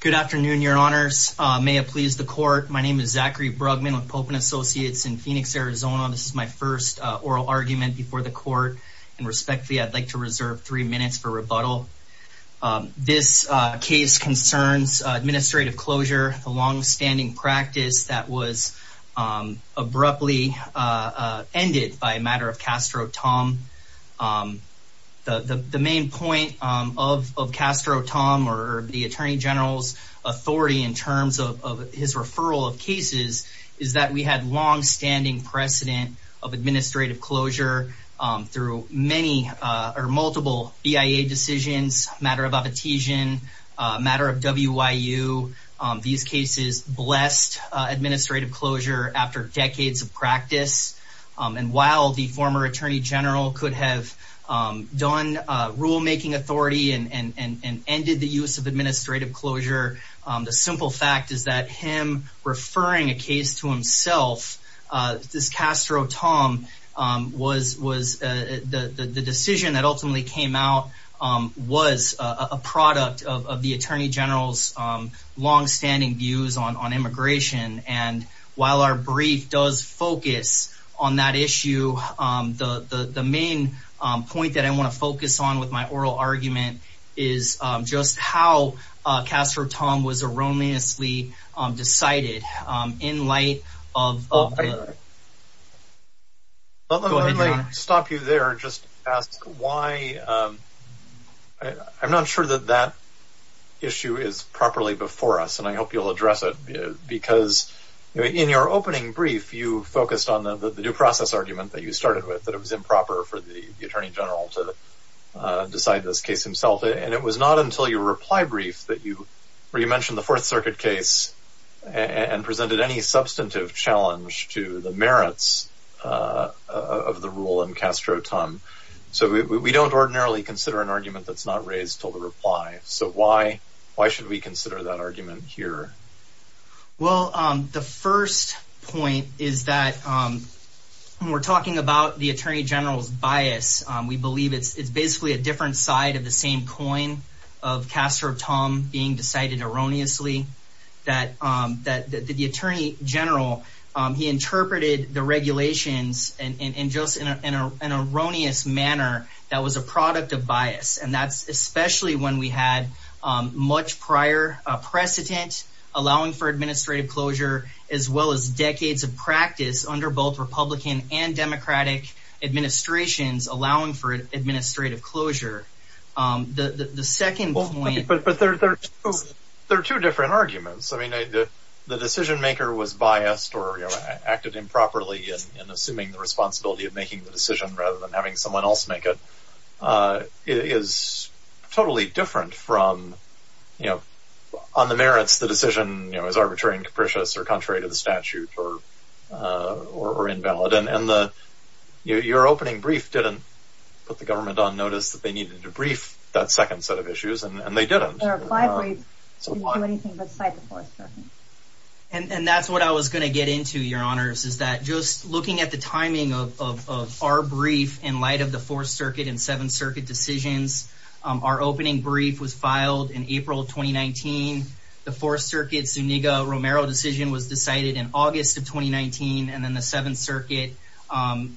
Good afternoon, your honors. May it please the court. My name is Zachary Brugman with Popen Associates in Phoenix, Arizona. This is my first oral argument before the court and respectfully, I'd like to reserve three minutes for rebuttal. This case concerns administrative closure, a longstanding practice that was abruptly ended by a matter of Castro Tom. The main point of Castro Tom, or the Attorney General's authority in terms of his referral of cases, is that we had longstanding precedent of administrative closure through many or multiple BIA decisions, matter of appetition, matter of WIU. These cases blessed administrative closure after decades of practice. And while the former Attorney General could have done rulemaking authority and ended the use of administrative closure, the simple fact is that him referring a case to himself, this Castro Tom, the decision that ultimately came out was a product of the Attorney General's longstanding views on immigration. And while our brief does focus on that issue, the main point that I want to focus on with my oral argument is just how Castro Tom was erroneously decided in light of... Let me stop you there, just ask why... I'm not sure that that issue is properly before us, and I hope you'll address it, because in your opening brief, you focused on the due process argument that you started with, that it was improper for the Attorney General to decide this case himself, and it was not until your reply brief that you mentioned the Fourth Circuit case and presented any substantive challenge to the merits of the rule in Castro Tom. So we don't ordinarily consider an argument that's not raised till the reply, so why should we consider that argument here? Well, the first point is that when we're talking about the Attorney General's bias, we believe it's basically a different side of the same coin of Castro Tom being decided erroneously, that the Attorney General, he interpreted the regulations in just an erroneous manner that was a product of bias. And that's especially when we had much prior precedent allowing for administrative closure, as well as decades of practice under both Republican and Democratic administrations allowing for administrative closure. The second point... But there are two different arguments. I mean, the decision-maker was biased or acted improperly in assuming the responsibility of making the decision rather than having someone else make it. It is totally different from... On the merits, the decision is arbitrary and capricious or contrary to the statute or invalid. And your opening brief didn't put the government on notice that they needed to brief that second set of issues, and they didn't. Their reply brief didn't do anything but cite the Fourth Circuit. And that's what I was going to get into, Your Honors, is that just looking at the timing of our brief in light of the Fourth Circuit and Seventh Circuit decisions, our opening brief was filed in April 2019. The Fourth Circuit's Zuniga-Romero decision was decided in August of 2019, and then the Seventh Circuit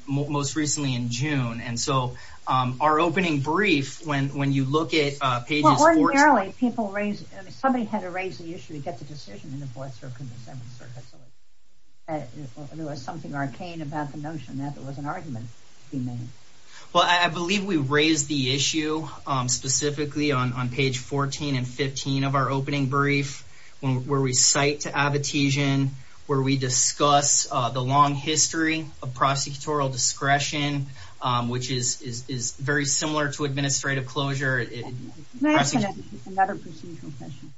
most recently in June. And so our opening brief, when you look at pages 14... Well, ordinarily, people raise... Somebody had to raise the issue to get the decision in the Fourth Circuit and the Seventh Circuit. There was something arcane about the notion that there was an argument to be made. Well, I believe we raised the issue specifically on page 14 and 15 of our opening brief, where we cite to Abitigian, where we discuss the long history of prosecutorial discretion, which is very similar to administrative closure. May I ask another procedural question?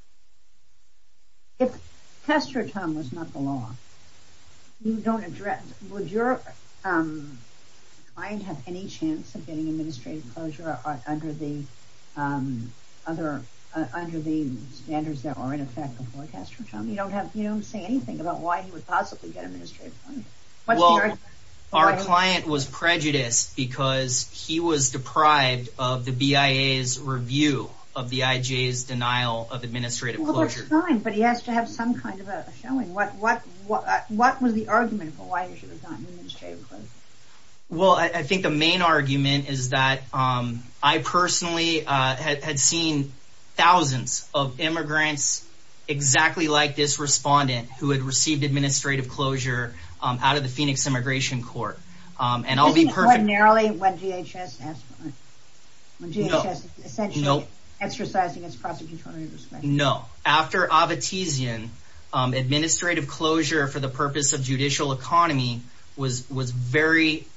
If castratum was not the law, would your client have any chance of getting administrative closure under the standards that were in effect before castratum? You don't say anything about why he would possibly get administrative closure. Well, our client was prejudiced because he was deprived of the BIA's review of the IJ's denial of administrative closure. Well, that's fine, but he has to have some kind of a showing. What was the argument for why he should have gotten administrative closure? Well, I think the main argument is that I personally had seen thousands of immigrants exactly like this respondent who had received administrative closure out of the Phoenix Immigration Court. Wasn't it ordinarily when DHS essentially exercised against prosecutorial discretion? No. After Abitigian, administrative closure for the purpose of judicial economy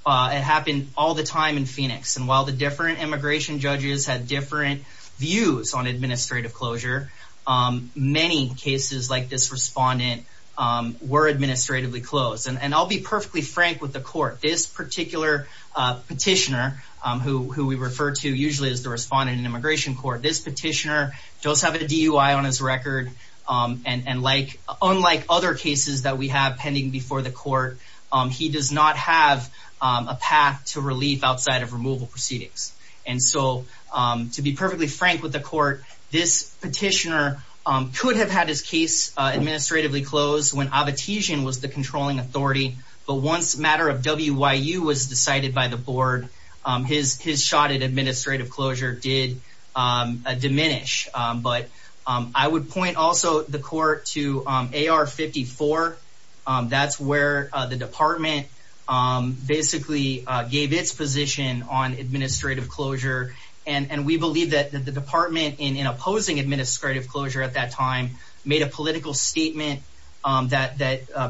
happened all the time in Phoenix. And while the different immigration judges had different views on administrative closure, and I'll be perfectly frank with the court, this particular petitioner, who we refer to usually as the respondent in immigration court, this petitioner does have a DUI on his record, and unlike other cases that we have pending before the court, he does not have a path to relief outside of removal proceedings. And so, to be perfectly frank with the court, this petitioner could have had his case administratively closed when Abitigian was the controlling authority, but once the matter of WYU was decided by the board, his shot at administrative closure did diminish. But I would point also the court to AR-54. That's where the department basically gave its position on administrative closure, and we believe that the department, in opposing administrative closure at that time, made a political statement that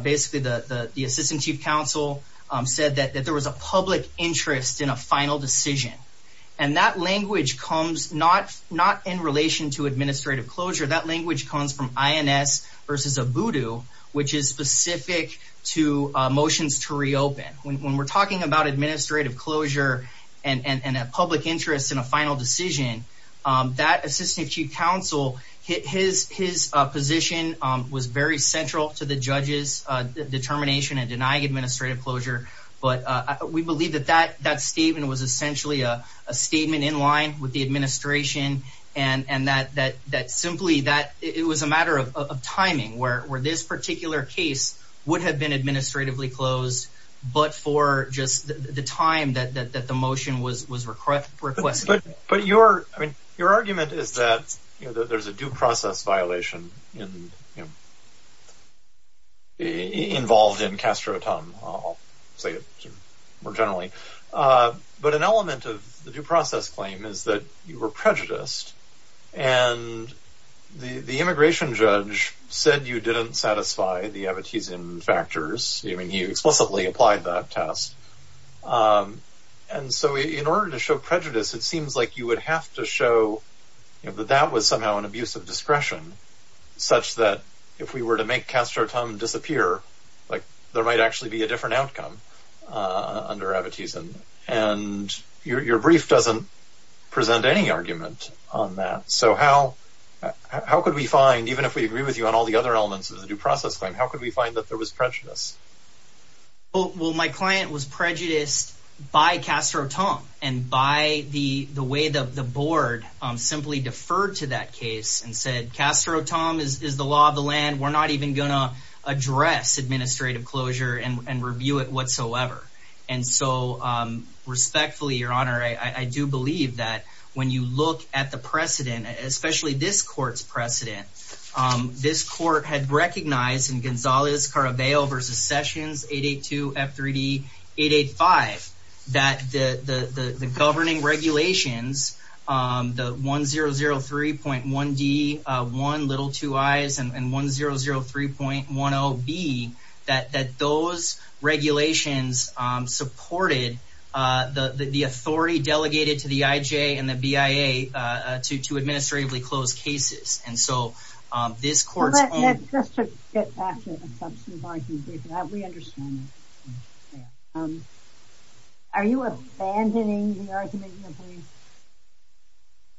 basically the assistant chief counsel said that there was a public interest in a final decision. And that language comes not in relation to administrative closure. That language comes from INS versus ABUDU, which is specific to motions to reopen. When we're talking about administrative closure and a public interest in a final decision, that assistant chief counsel, his position was very central to the judge's determination in denying administrative closure. But we believe that that statement was essentially a statement in line with the administration and that simply that it was a matter of timing, where this particular case would have been administratively closed, but for just the time that the motion was requested. But your argument is that there's a due process violation involved in Castro-Tum. I'll say it more generally. But an element of the due process claim is that you were prejudiced, and the immigration judge said you didn't satisfy the Abitizian factors. I mean, he explicitly applied that test. And so in order to show prejudice, it seems like you would have to show that that was somehow an abuse of discretion, such that if we were to make Castro-Tum disappear, there might actually be a different outcome under Abitizian. And your brief doesn't present any argument on that. So how could we find, even if we agree with you on all the other elements of the due process claim, how could we find that there was prejudice? Well, my client was prejudiced by Castro-Tum, and by the way the board simply deferred to that case and said, Castro-Tum is the law of the land. We're not even going to address administrative closure and review it whatsoever. And so respectfully, Your Honor, I do believe that when you look at the precedent, especially this court's precedent, this court had recognized in Gonzalez-Carabello v. Sessions 882 F3D 885 that the governing regulations, the 1003.1d.1 little 2 I's and 1003.10b, that those regulations supported the authority delegated to the IJ and the BIA to administratively close cases. And so this court's own... But just to get back to the substantive argument, we understand that. Are you abandoning the argument, Your Honor?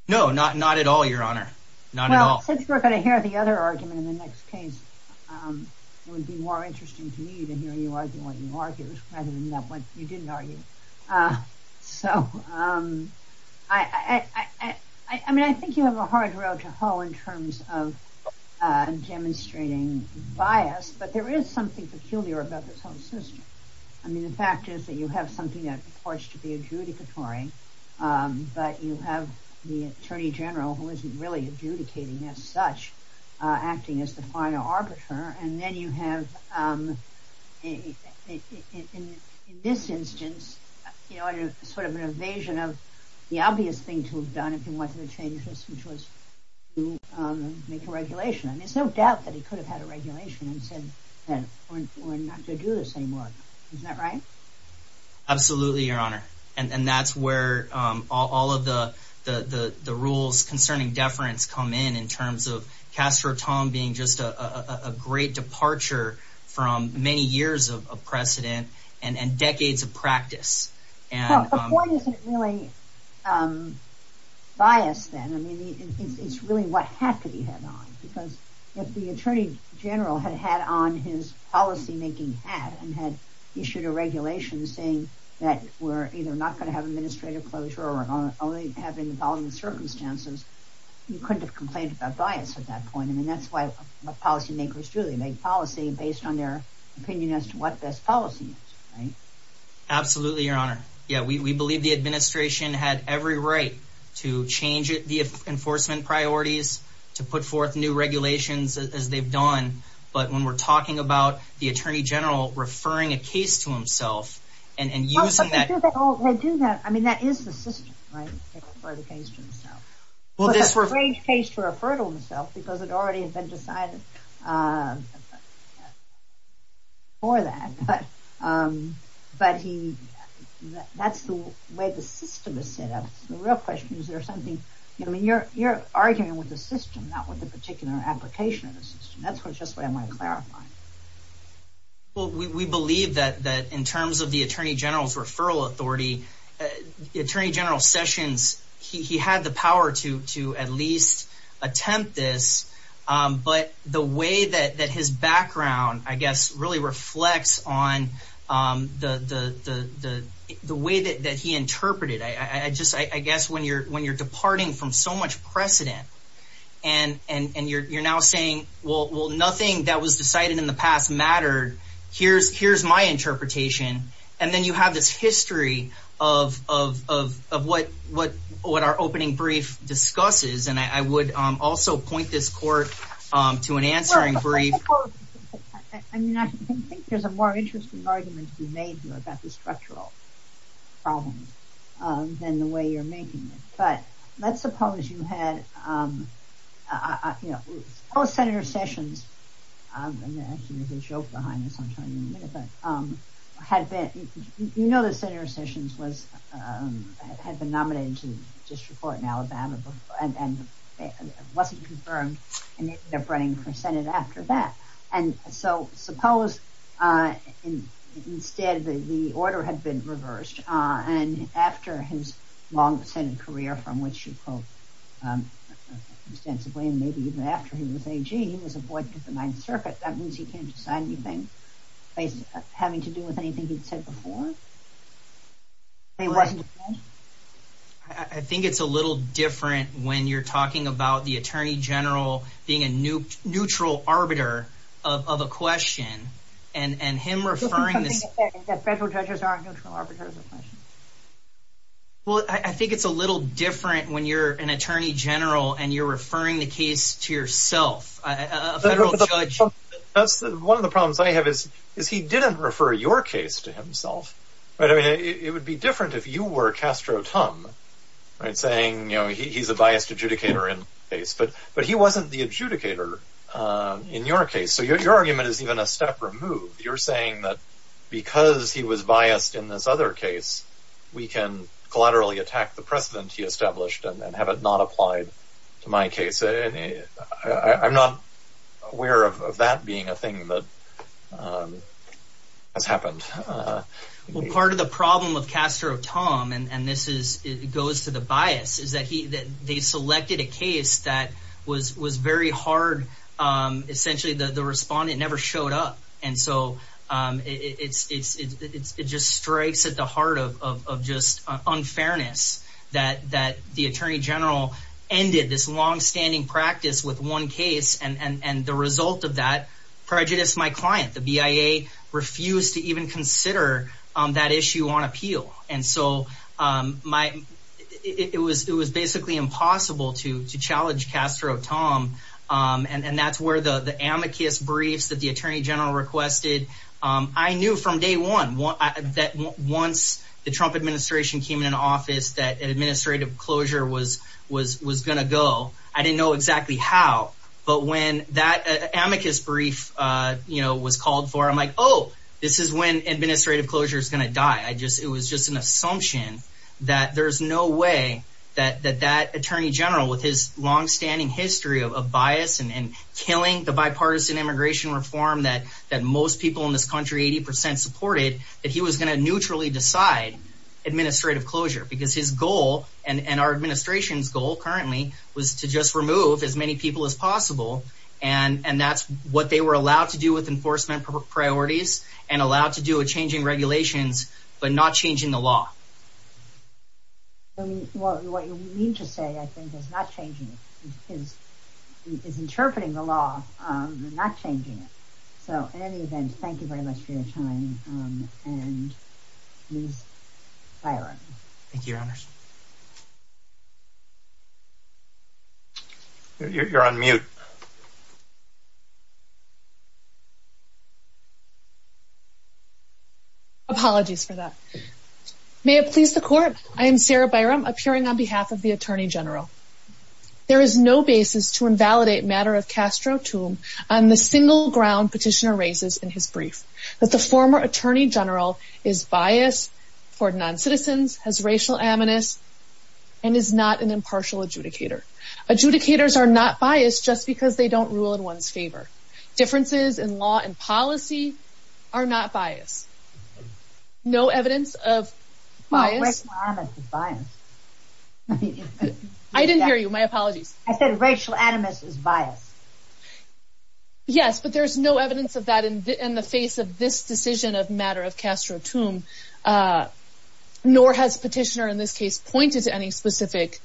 No, not at all, Your Honor. Not at all. Well, since we're going to hear the other argument in the next case, it would be more interesting to me to hear you argue what you argued, rather than what you didn't argue. So, I mean, I think you have a hard road to hoe in terms of demonstrating bias, but there is something peculiar about this whole system. I mean, the fact is that you have something that purports to be adjudicatory, but you have the attorney general who isn't really adjudicating as such, acting as the final arbiter. And then you have, in this instance, sort of an evasion of the obvious thing to have done if you wanted to change this, which was to make a regulation. And there's no doubt that he could have had a regulation and said that we're not going to do this anymore. Isn't that right? Absolutely, Your Honor. And that's where all of the rules concerning deference come in, in terms of Castro-Tom being just a great departure from many years of precedent and decades of practice. Well, the point isn't really bias, then. I mean, it's really what hat could he have on? Because if the attorney general had had on his policymaking hat and had issued a regulation saying that we're either not going to have administrative closure or only have involving circumstances, you couldn't have complained about bias at that point. I mean, that's why policymakers truly make policy based on their opinion as to what best policy is, right? Absolutely, Your Honor. Yeah, we believe the administration had every right to change the enforcement priorities, to put forth new regulations as they've done. But when we're talking about the attorney general referring a case to himself and using that... Well, they do that. I mean, that is the system, right? Well, it's a strange case to refer to himself because it already had been decided for that. But that's the way the system is set up. The real question is, is there something... I mean, you're arguing with the system, not with the particular application of the system. That's just what I'm trying to clarify. Well, we believe that in terms of the attorney general's referral authority, Attorney General Sessions, he had the power to at least attempt this. But the way that his background, I guess, really reflects on the way that he interpreted it. I guess when you're departing from so much precedent and you're now saying, well, nothing that was decided in the past mattered, here's my interpretation, and then you have this history of what our opening brief discusses, and I would also point this court to an answering brief. I mean, I think there's a more interesting argument to be made here about the structural problem than the way you're making it. But let's suppose you had... Suppose Senator Sessions, and actually there's a joke behind this I'm trying to remember, had been... You know that Senator Sessions had been nominated to district court in Alabama and wasn't confirmed and ended up running for Senate after that. And so suppose instead the order had been reversed and after his long Senate career, from which you quote ostensibly, and maybe even after he was AG, he was appointed to the Ninth Circuit. That means he can't decide anything having to do with anything he'd said before? He wasn't confirmed? I think it's a little different when you're talking about the attorney general being a neutral arbiter of a question and him referring to... Do you think something that federal judges aren't neutral arbiters of questions? Well, I think it's a little different when you're an attorney general and you're referring the case to yourself, a federal judge. One of the problems I have is he didn't refer your case to himself. It would be different if you were Castro Tum, saying he's a biased adjudicator in the case, but he wasn't the adjudicator in your case. So your argument is even a step removed. You're saying that because he was biased in this other case, we can collaterally attack the precedent he established and have it not applied to my case. I'm not aware of that being a thing that has happened. Well, part of the problem with Castro Tum, and this goes to the bias, is that they selected a case that was very hard. Essentially, the respondent never showed up. And so it just strikes at the heart of just unfairness that the attorney general ended this longstanding practice with one case, and the result of that prejudiced my client. The BIA refused to even consider that issue on appeal. And so it was basically impossible to challenge Castro Tum, and that's where the amicus briefs that the attorney general requested. I knew from day one that once the Trump administration came into office that administrative closure was going to go. I didn't know exactly how, but when that amicus brief was called for, I'm like, oh, this is when administrative closure is going to die. It was just an assumption that there's no way that that attorney general, with his longstanding history of bias and killing the bipartisan immigration reform that most people in this country 80% supported, that he was going to neutrally decide administrative closure. Because his goal, and our administration's goal currently, was to just remove as many people as possible, and that's what they were allowed to do with enforcement priorities and allowed to do with changing regulations but not changing the law. What you mean to say, I think, is not changing. It's interpreting the law, not changing it. So in any event, thank you very much for your time, and please fire up. Thank you, Your Honors. You're on mute. Apologies for that. May it please the Court, I am Sarah Byrum, appearing on behalf of the attorney general. There is no basis to invalidate matter of Castro-Toome on the single ground Petitioner raises in his brief, that the former attorney general is biased toward noncitizens, has racial aminus, and is not an impartial adjudicator. Adjudicators are not biased just because they don't rule in one's favor. Differences in law and policy are not biased. No evidence of bias? No, racial aminus is biased. I didn't hear you. My apologies. I said racial aminus is biased. Yes, but there's no evidence of that in the face of this decision of matter of Castro-Toome, nor has Petitioner in this case pointed to any specific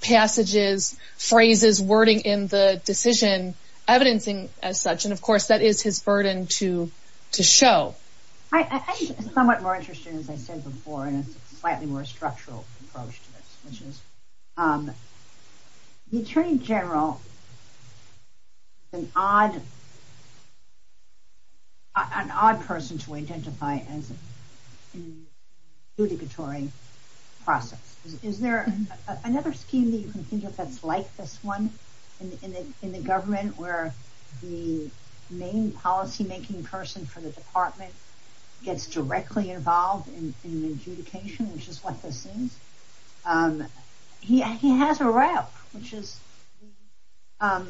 passages, phrases, wording in the decision, evidencing as such, and of course that is his burden to show. I'm somewhat more interested, as I said before, in a slightly more structural approach to this, which is the attorney general is an odd person to identify as an adjudicatory process. Is there another scheme that you can think of that's like this one in the government, where the main policy-making person for the department gets directly involved in adjudication, which is what this is? He has a rep, which is the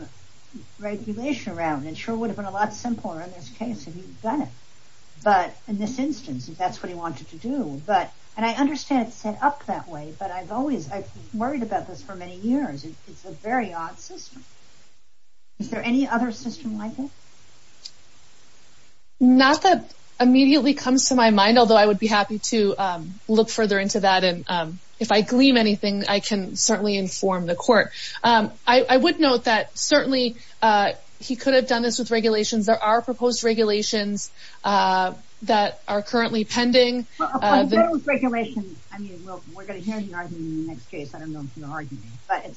regulation rep, and it sure would have been a lot simpler in this case if he'd done it. But in this instance, if that's what he wanted to do, and I understand it's set up that way, but I've worried about this for many years. It's a very odd system. Is there any other system like this? Not that it immediately comes to my mind, although I would be happy to look further into that. If I gleam anything, I can certainly inform the court. I would note that certainly he could have done this with regulations. There are proposed regulations that are currently pending. With regulations, we're going to hear your argument in the next case. I don't know if you're arguing, but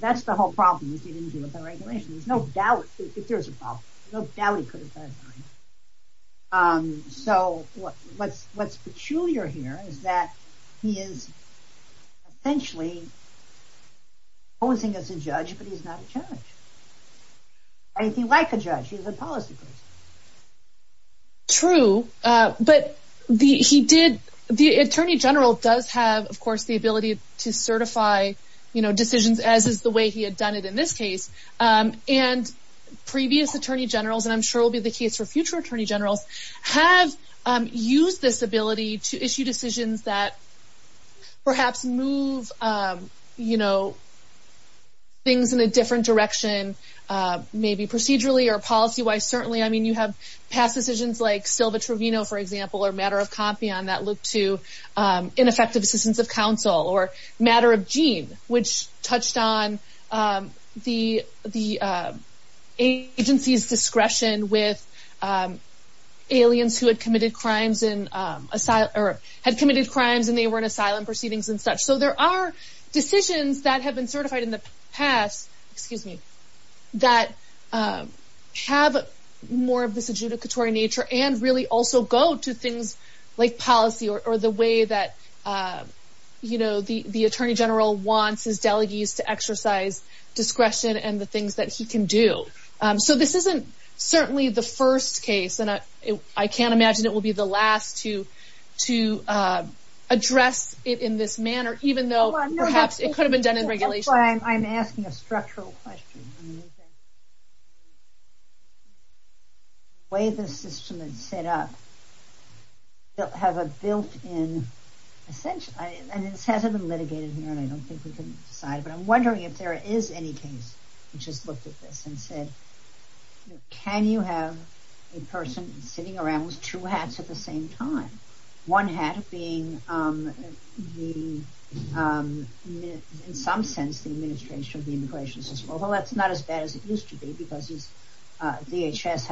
that's the whole problem with the regulations. There's no doubt he could have done it. What's peculiar here is that he is essentially posing as a judge, but he's not a judge. If you like a judge, he's a policy person. True, but the attorney general does have, of course, the ability to certify decisions, as is the way he had done it in this case. Previous attorney generals, and I'm sure will be the case for future attorney generals, have used this ability to issue decisions that perhaps move things in a different direction, maybe procedurally or policy-wise. Certainly, you have past decisions like Silva-Trovino, for example, or Matter of Compion that looked to ineffective assistance of counsel, or Matter of Jean, which touched on the agency's discretion with aliens who had committed crimes and they were in asylum proceedings and such. There are decisions that have been certified in the past that have more of this adjudicatory nature and really also go to things like policy or the way that the attorney general wants his delegates to exercise discretion and the things that he can do. This isn't certainly the first case, and I can't imagine it will be the last to address it in this manner, even though perhaps it could have been done in regulation. That's why I'm asking a structural question. The way the system is set up, they'll have a built-in, and it hasn't been litigated here and I don't think we can decide, but I'm wondering if there is any case which has looked at this and said, can you have a person sitting around with two hats at the same time? One hat being, in some sense, the administration of the immigration system. Well, that's not as bad as it used to be because DHS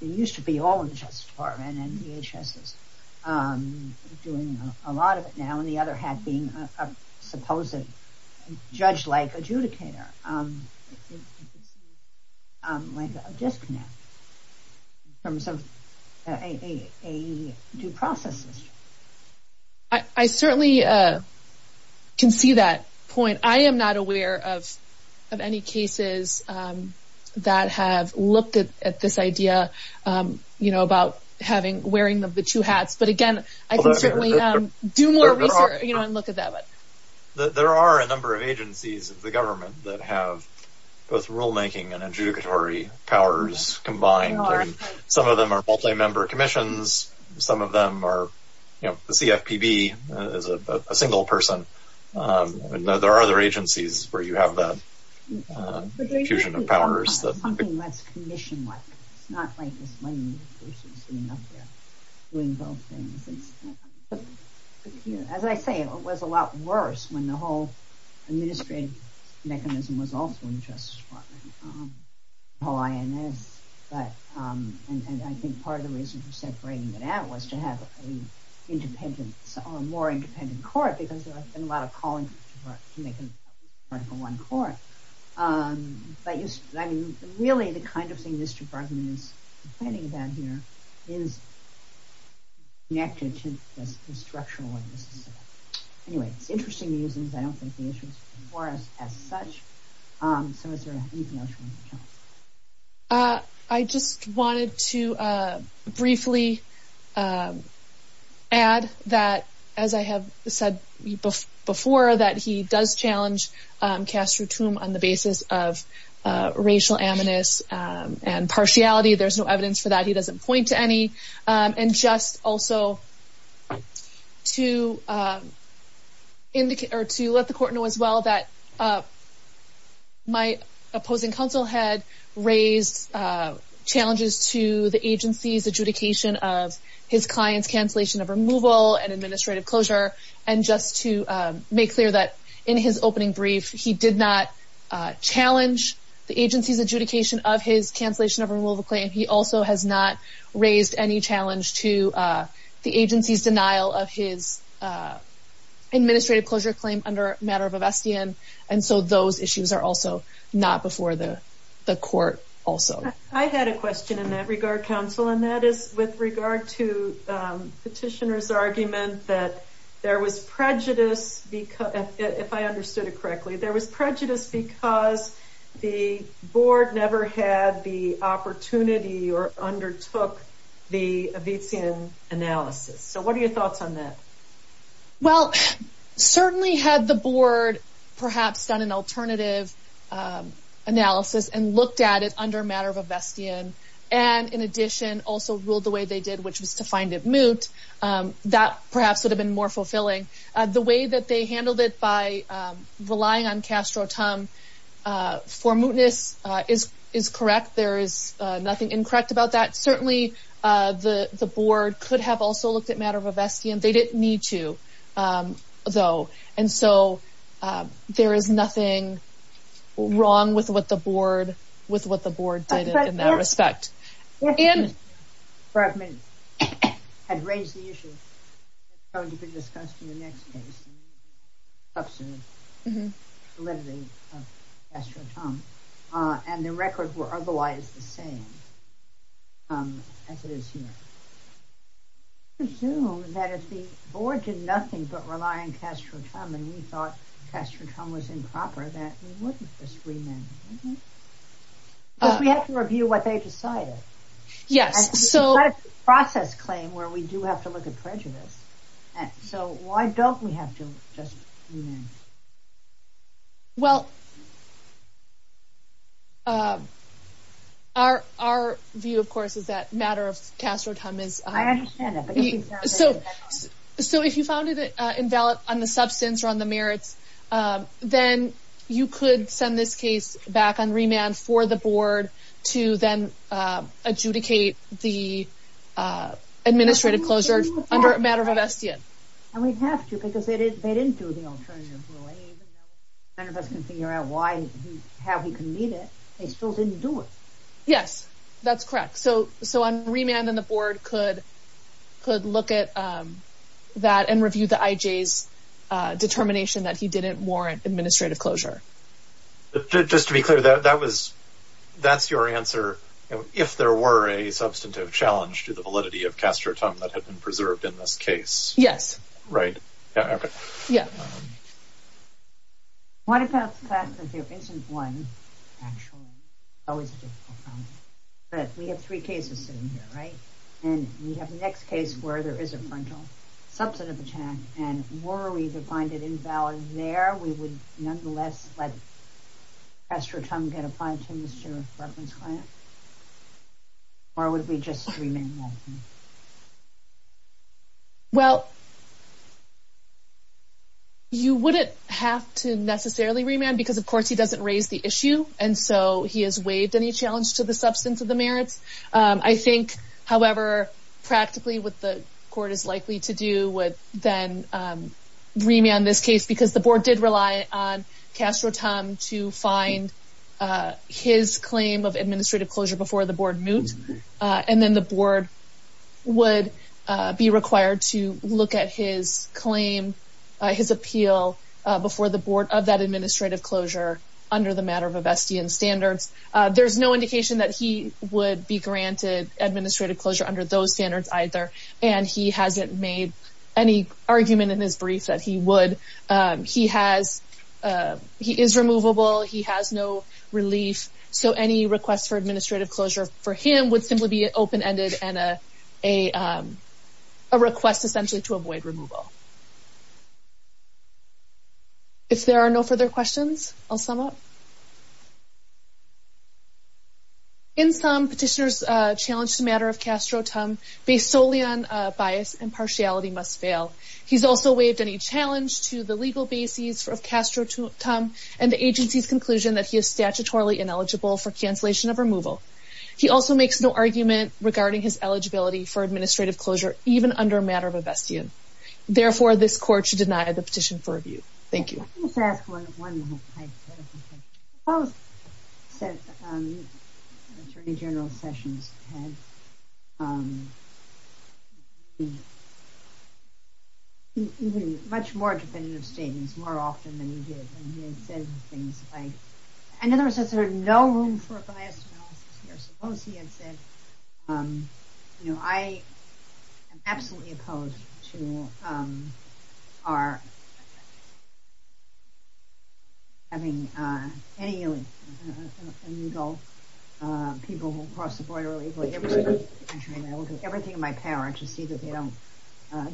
used to be all in the Justice Department and DHS is doing a lot of it now, and the other hat being a supposed judge-like adjudicator. In terms of a due process system. I certainly can see that point. I am not aware of any cases that have looked at this idea about wearing the two hats, but again, I can certainly do more research and look at that. There are a number of agencies of the government that have both rulemaking and adjudicatory powers combined. Some of them are multi-member commissions. Some of them are CFPB as a single person. There are other agencies where you have that fusion of powers. It's something less commission-like. It's not like this one person sitting up there doing both things. As I say, it was a lot worse when the whole administrative mechanism was also in the Justice Department. The whole INS. I think part of the reason for separating it out was to have a more independent court because there have been a lot of calling for one court. Really, the kind of thing this department is complaining about here is connected to the structural one. Anyway, it's interesting to me because I don't think the issue was before us as such. So, is there anything else you want to add? I just wanted to briefly add that, as I have said before, that he does challenge Castro-Trump on the basis of racial aminus and partiality. There's no evidence for that. He doesn't point to any. Just also to let the court know as well that my opposing counsel had raised challenges to the agency's adjudication of his client's cancellation of removal and administrative closure. Just to make clear that in his opening brief, he did not challenge the agency's adjudication of his cancellation of removal claim. He also has not raised any challenge to the agency's denial of his administrative closure claim under a matter of avestian. So, those issues are also not before the court also. I had a question in that regard, counsel, and that is with regard to petitioner's argument that there was prejudice, if I understood it correctly, there was prejudice because the board never had the opportunity or undertook the avestian analysis. So, what are your thoughts on that? Well, certainly had the board perhaps done an alternative analysis and looked at it under a matter of avestian and, in addition, also ruled the way they did, which was to find it moot, that perhaps would have been more fulfilling. The way that they handled it by relying on Castro-Tum for mootness is correct. There is nothing incorrect about that. Certainly, the board could have also looked at matter of avestian. They didn't need to, though. And so, there is nothing wrong with what the board did in that respect. Mr. Bergman had raised the issue that is going to be discussed in the next case, substantive validity of Castro-Tum, and the records were otherwise the same as it is here. I presume that if the board did nothing but rely on Castro-Tum and we thought Castro-Tum was improper, that we wouldn't just remand it, wouldn't we? Because we have to review what they decided. It's not a process claim where we do have to look at prejudice. So, why don't we have to just remand it? Well, our view, of course, is that matter of Castro-Tum is... I understand that. So, if you found it invalid on the substance or on the merits, then you could send this case back on remand for the board to then adjudicate the administrative closure under matter of avestian. And we'd have to, because they didn't do the alternative ruling. Even though none of us can figure out how he convened it, they still didn't do it. Yes, that's correct. So, on remand, then the board could look at that and review the IJ's determination that he didn't warrant administrative closure. Just to be clear, that's your answer, if there were a substantive challenge to the validity of Castro-Tum that had been preserved in this case? Yes. Right. Yeah. What about the fact that there isn't one, actually? It's always a difficult problem. But we have three cases sitting here, right? And we have the next case where there is a frontal substantive attack, and were we to find it invalid there, we would nonetheless let Castro-Tum get a fine to Mr. Barclay's client? Or would we just remand that? Well, you wouldn't have to necessarily remand, because of course he doesn't raise the issue, and so he has waived any challenge to the substance of the merits. I think, however, practically what the court is likely to do would then remand this case, because the board did rely on Castro-Tum to find his claim of administrative closure before the board moved. And then the board would be required to look at his claim, his appeal before the board of that administrative closure under the matter of Avestian standards. There's no indication that he would be granted administrative closure under those standards either, and he hasn't made any argument in his brief that he would. He is removable. He has no relief. So any request for administrative closure for him would simply be open-ended and a request essentially to avoid removal. If there are no further questions, I'll sum up. In sum, petitioners challenged the matter of Castro-Tum based solely on bias and partiality must fail. He's also waived any challenge to the legal bases of Castro-Tum and the agency's conclusion that he is statutorily ineligible for cancellation of removal. He also makes no argument regarding his eligibility for administrative closure, even under a matter of Avestian. Therefore, this court should deny the petition for review. Thank you. Let me just ask one more question. I suppose Attorney General Sessions had much more definitive statements more often than he did, and he had said things like, in other words, there's no room for a biased analysis here. I am absolutely opposed to having any illegal people cross the border illegally. I will do everything in my power to see that they don't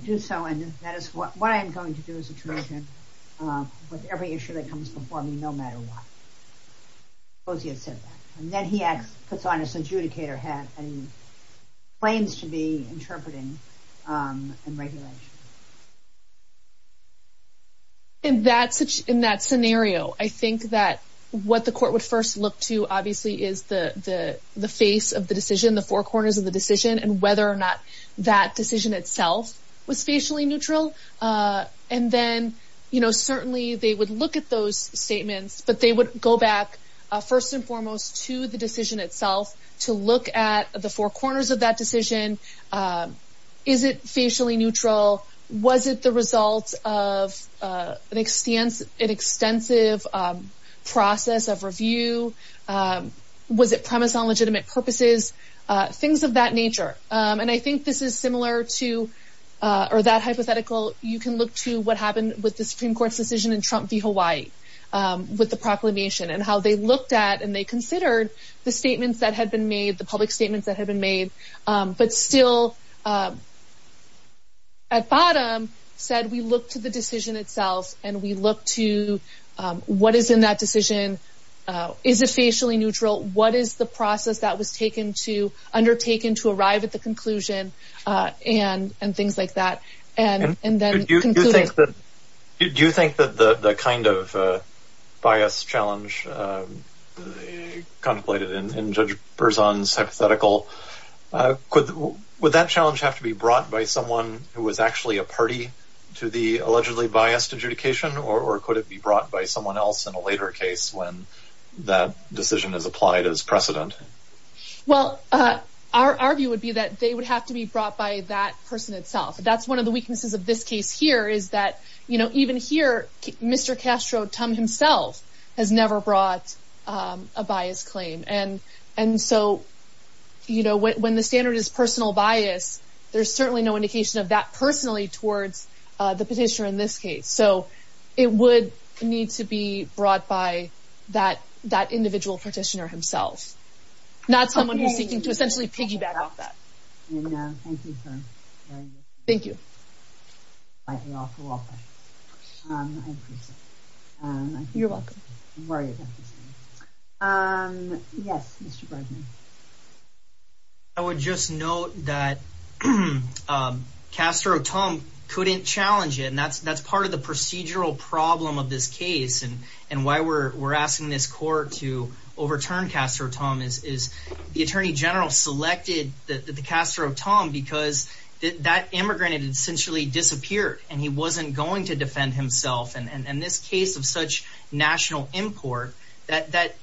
do so, and that is what I am going to do as Attorney General with every issue that comes before me, no matter what. And then he puts on his adjudicator hat and claims to be interpreting and regulating. In that scenario, I think that what the court would first look to, obviously, is the face of the decision, the four corners of the decision, and whether or not that decision itself was facially neutral. And then, certainly, they would look at those statements, but they would go back, first and foremost, to the decision itself to look at the four corners of that decision. Is it facially neutral? Was it the result of an extensive process of review? Was it premise on legitimate purposes? Things of that nature. And I think this is similar to, or that hypothetical, you can look to what happened with the Supreme Court's decision in Trump v. Hawaii, with the proclamation, and how they looked at and they considered the statements that had been made, the public statements that had been made, but still, at bottom, said we look to the decision itself, and we look to what is in that decision. Is it facially neutral? What is the process that was undertaken to arrive at the conclusion? And things like that. Do you think that the kind of bias challenge contemplated in Judge Berzon's hypothetical, would that challenge have to be brought by someone who was actually a party to the allegedly biased adjudication, or could it be brought by someone else in a later case when that decision is applied as precedent? Well, our view would be that they would have to be brought by that person itself. That's one of the weaknesses of this case here, is that even here, Mr. Castro, Tom himself, has never brought a biased claim. And so when the standard is personal bias, there's certainly no indication of that personally towards the petitioner in this case. So, it would need to be brought by that individual petitioner himself. Not someone who's seeking to essentially piggyback off that. Thank you for your time. Thank you. I thank you all for all your questions. I appreciate it. You're welcome. I'm worried about this thing. Yes, Mr. Bergman. I would just note that Castro, Tom couldn't challenge it, and that's part of the procedural problem of this case, and why we're asking this court to overturn Castro, Tom, is the Attorney General selected the Castro, Tom, because that immigrant had essentially disappeared, and he wasn't going to defend himself. And this case of such national import, that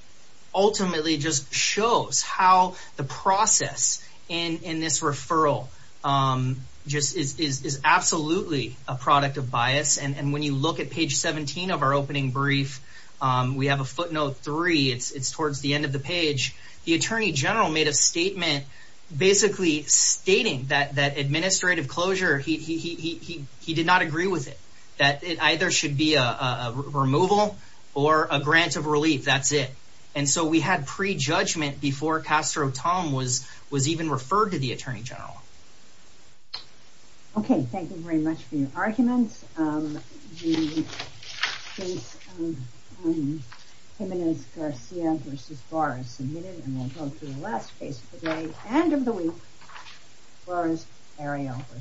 ultimately just shows how the process in this referral just is absolutely a product of bias. And when you look at page 17 of our opening brief, we have a footnote three. It's towards the end of the page. The Attorney General made a statement basically stating that administrative closure, he did not agree with it. That it either should be a removal or a grant of relief, that's it. And so we had prejudgment before Castro, Tom was even referred to the Attorney General. Okay, thank you very much for your arguments. The case of Jimenez-Garcia v. Barr is submitted, and we'll go to the last case of the day and of the week, Barr's Ariel v. Barr.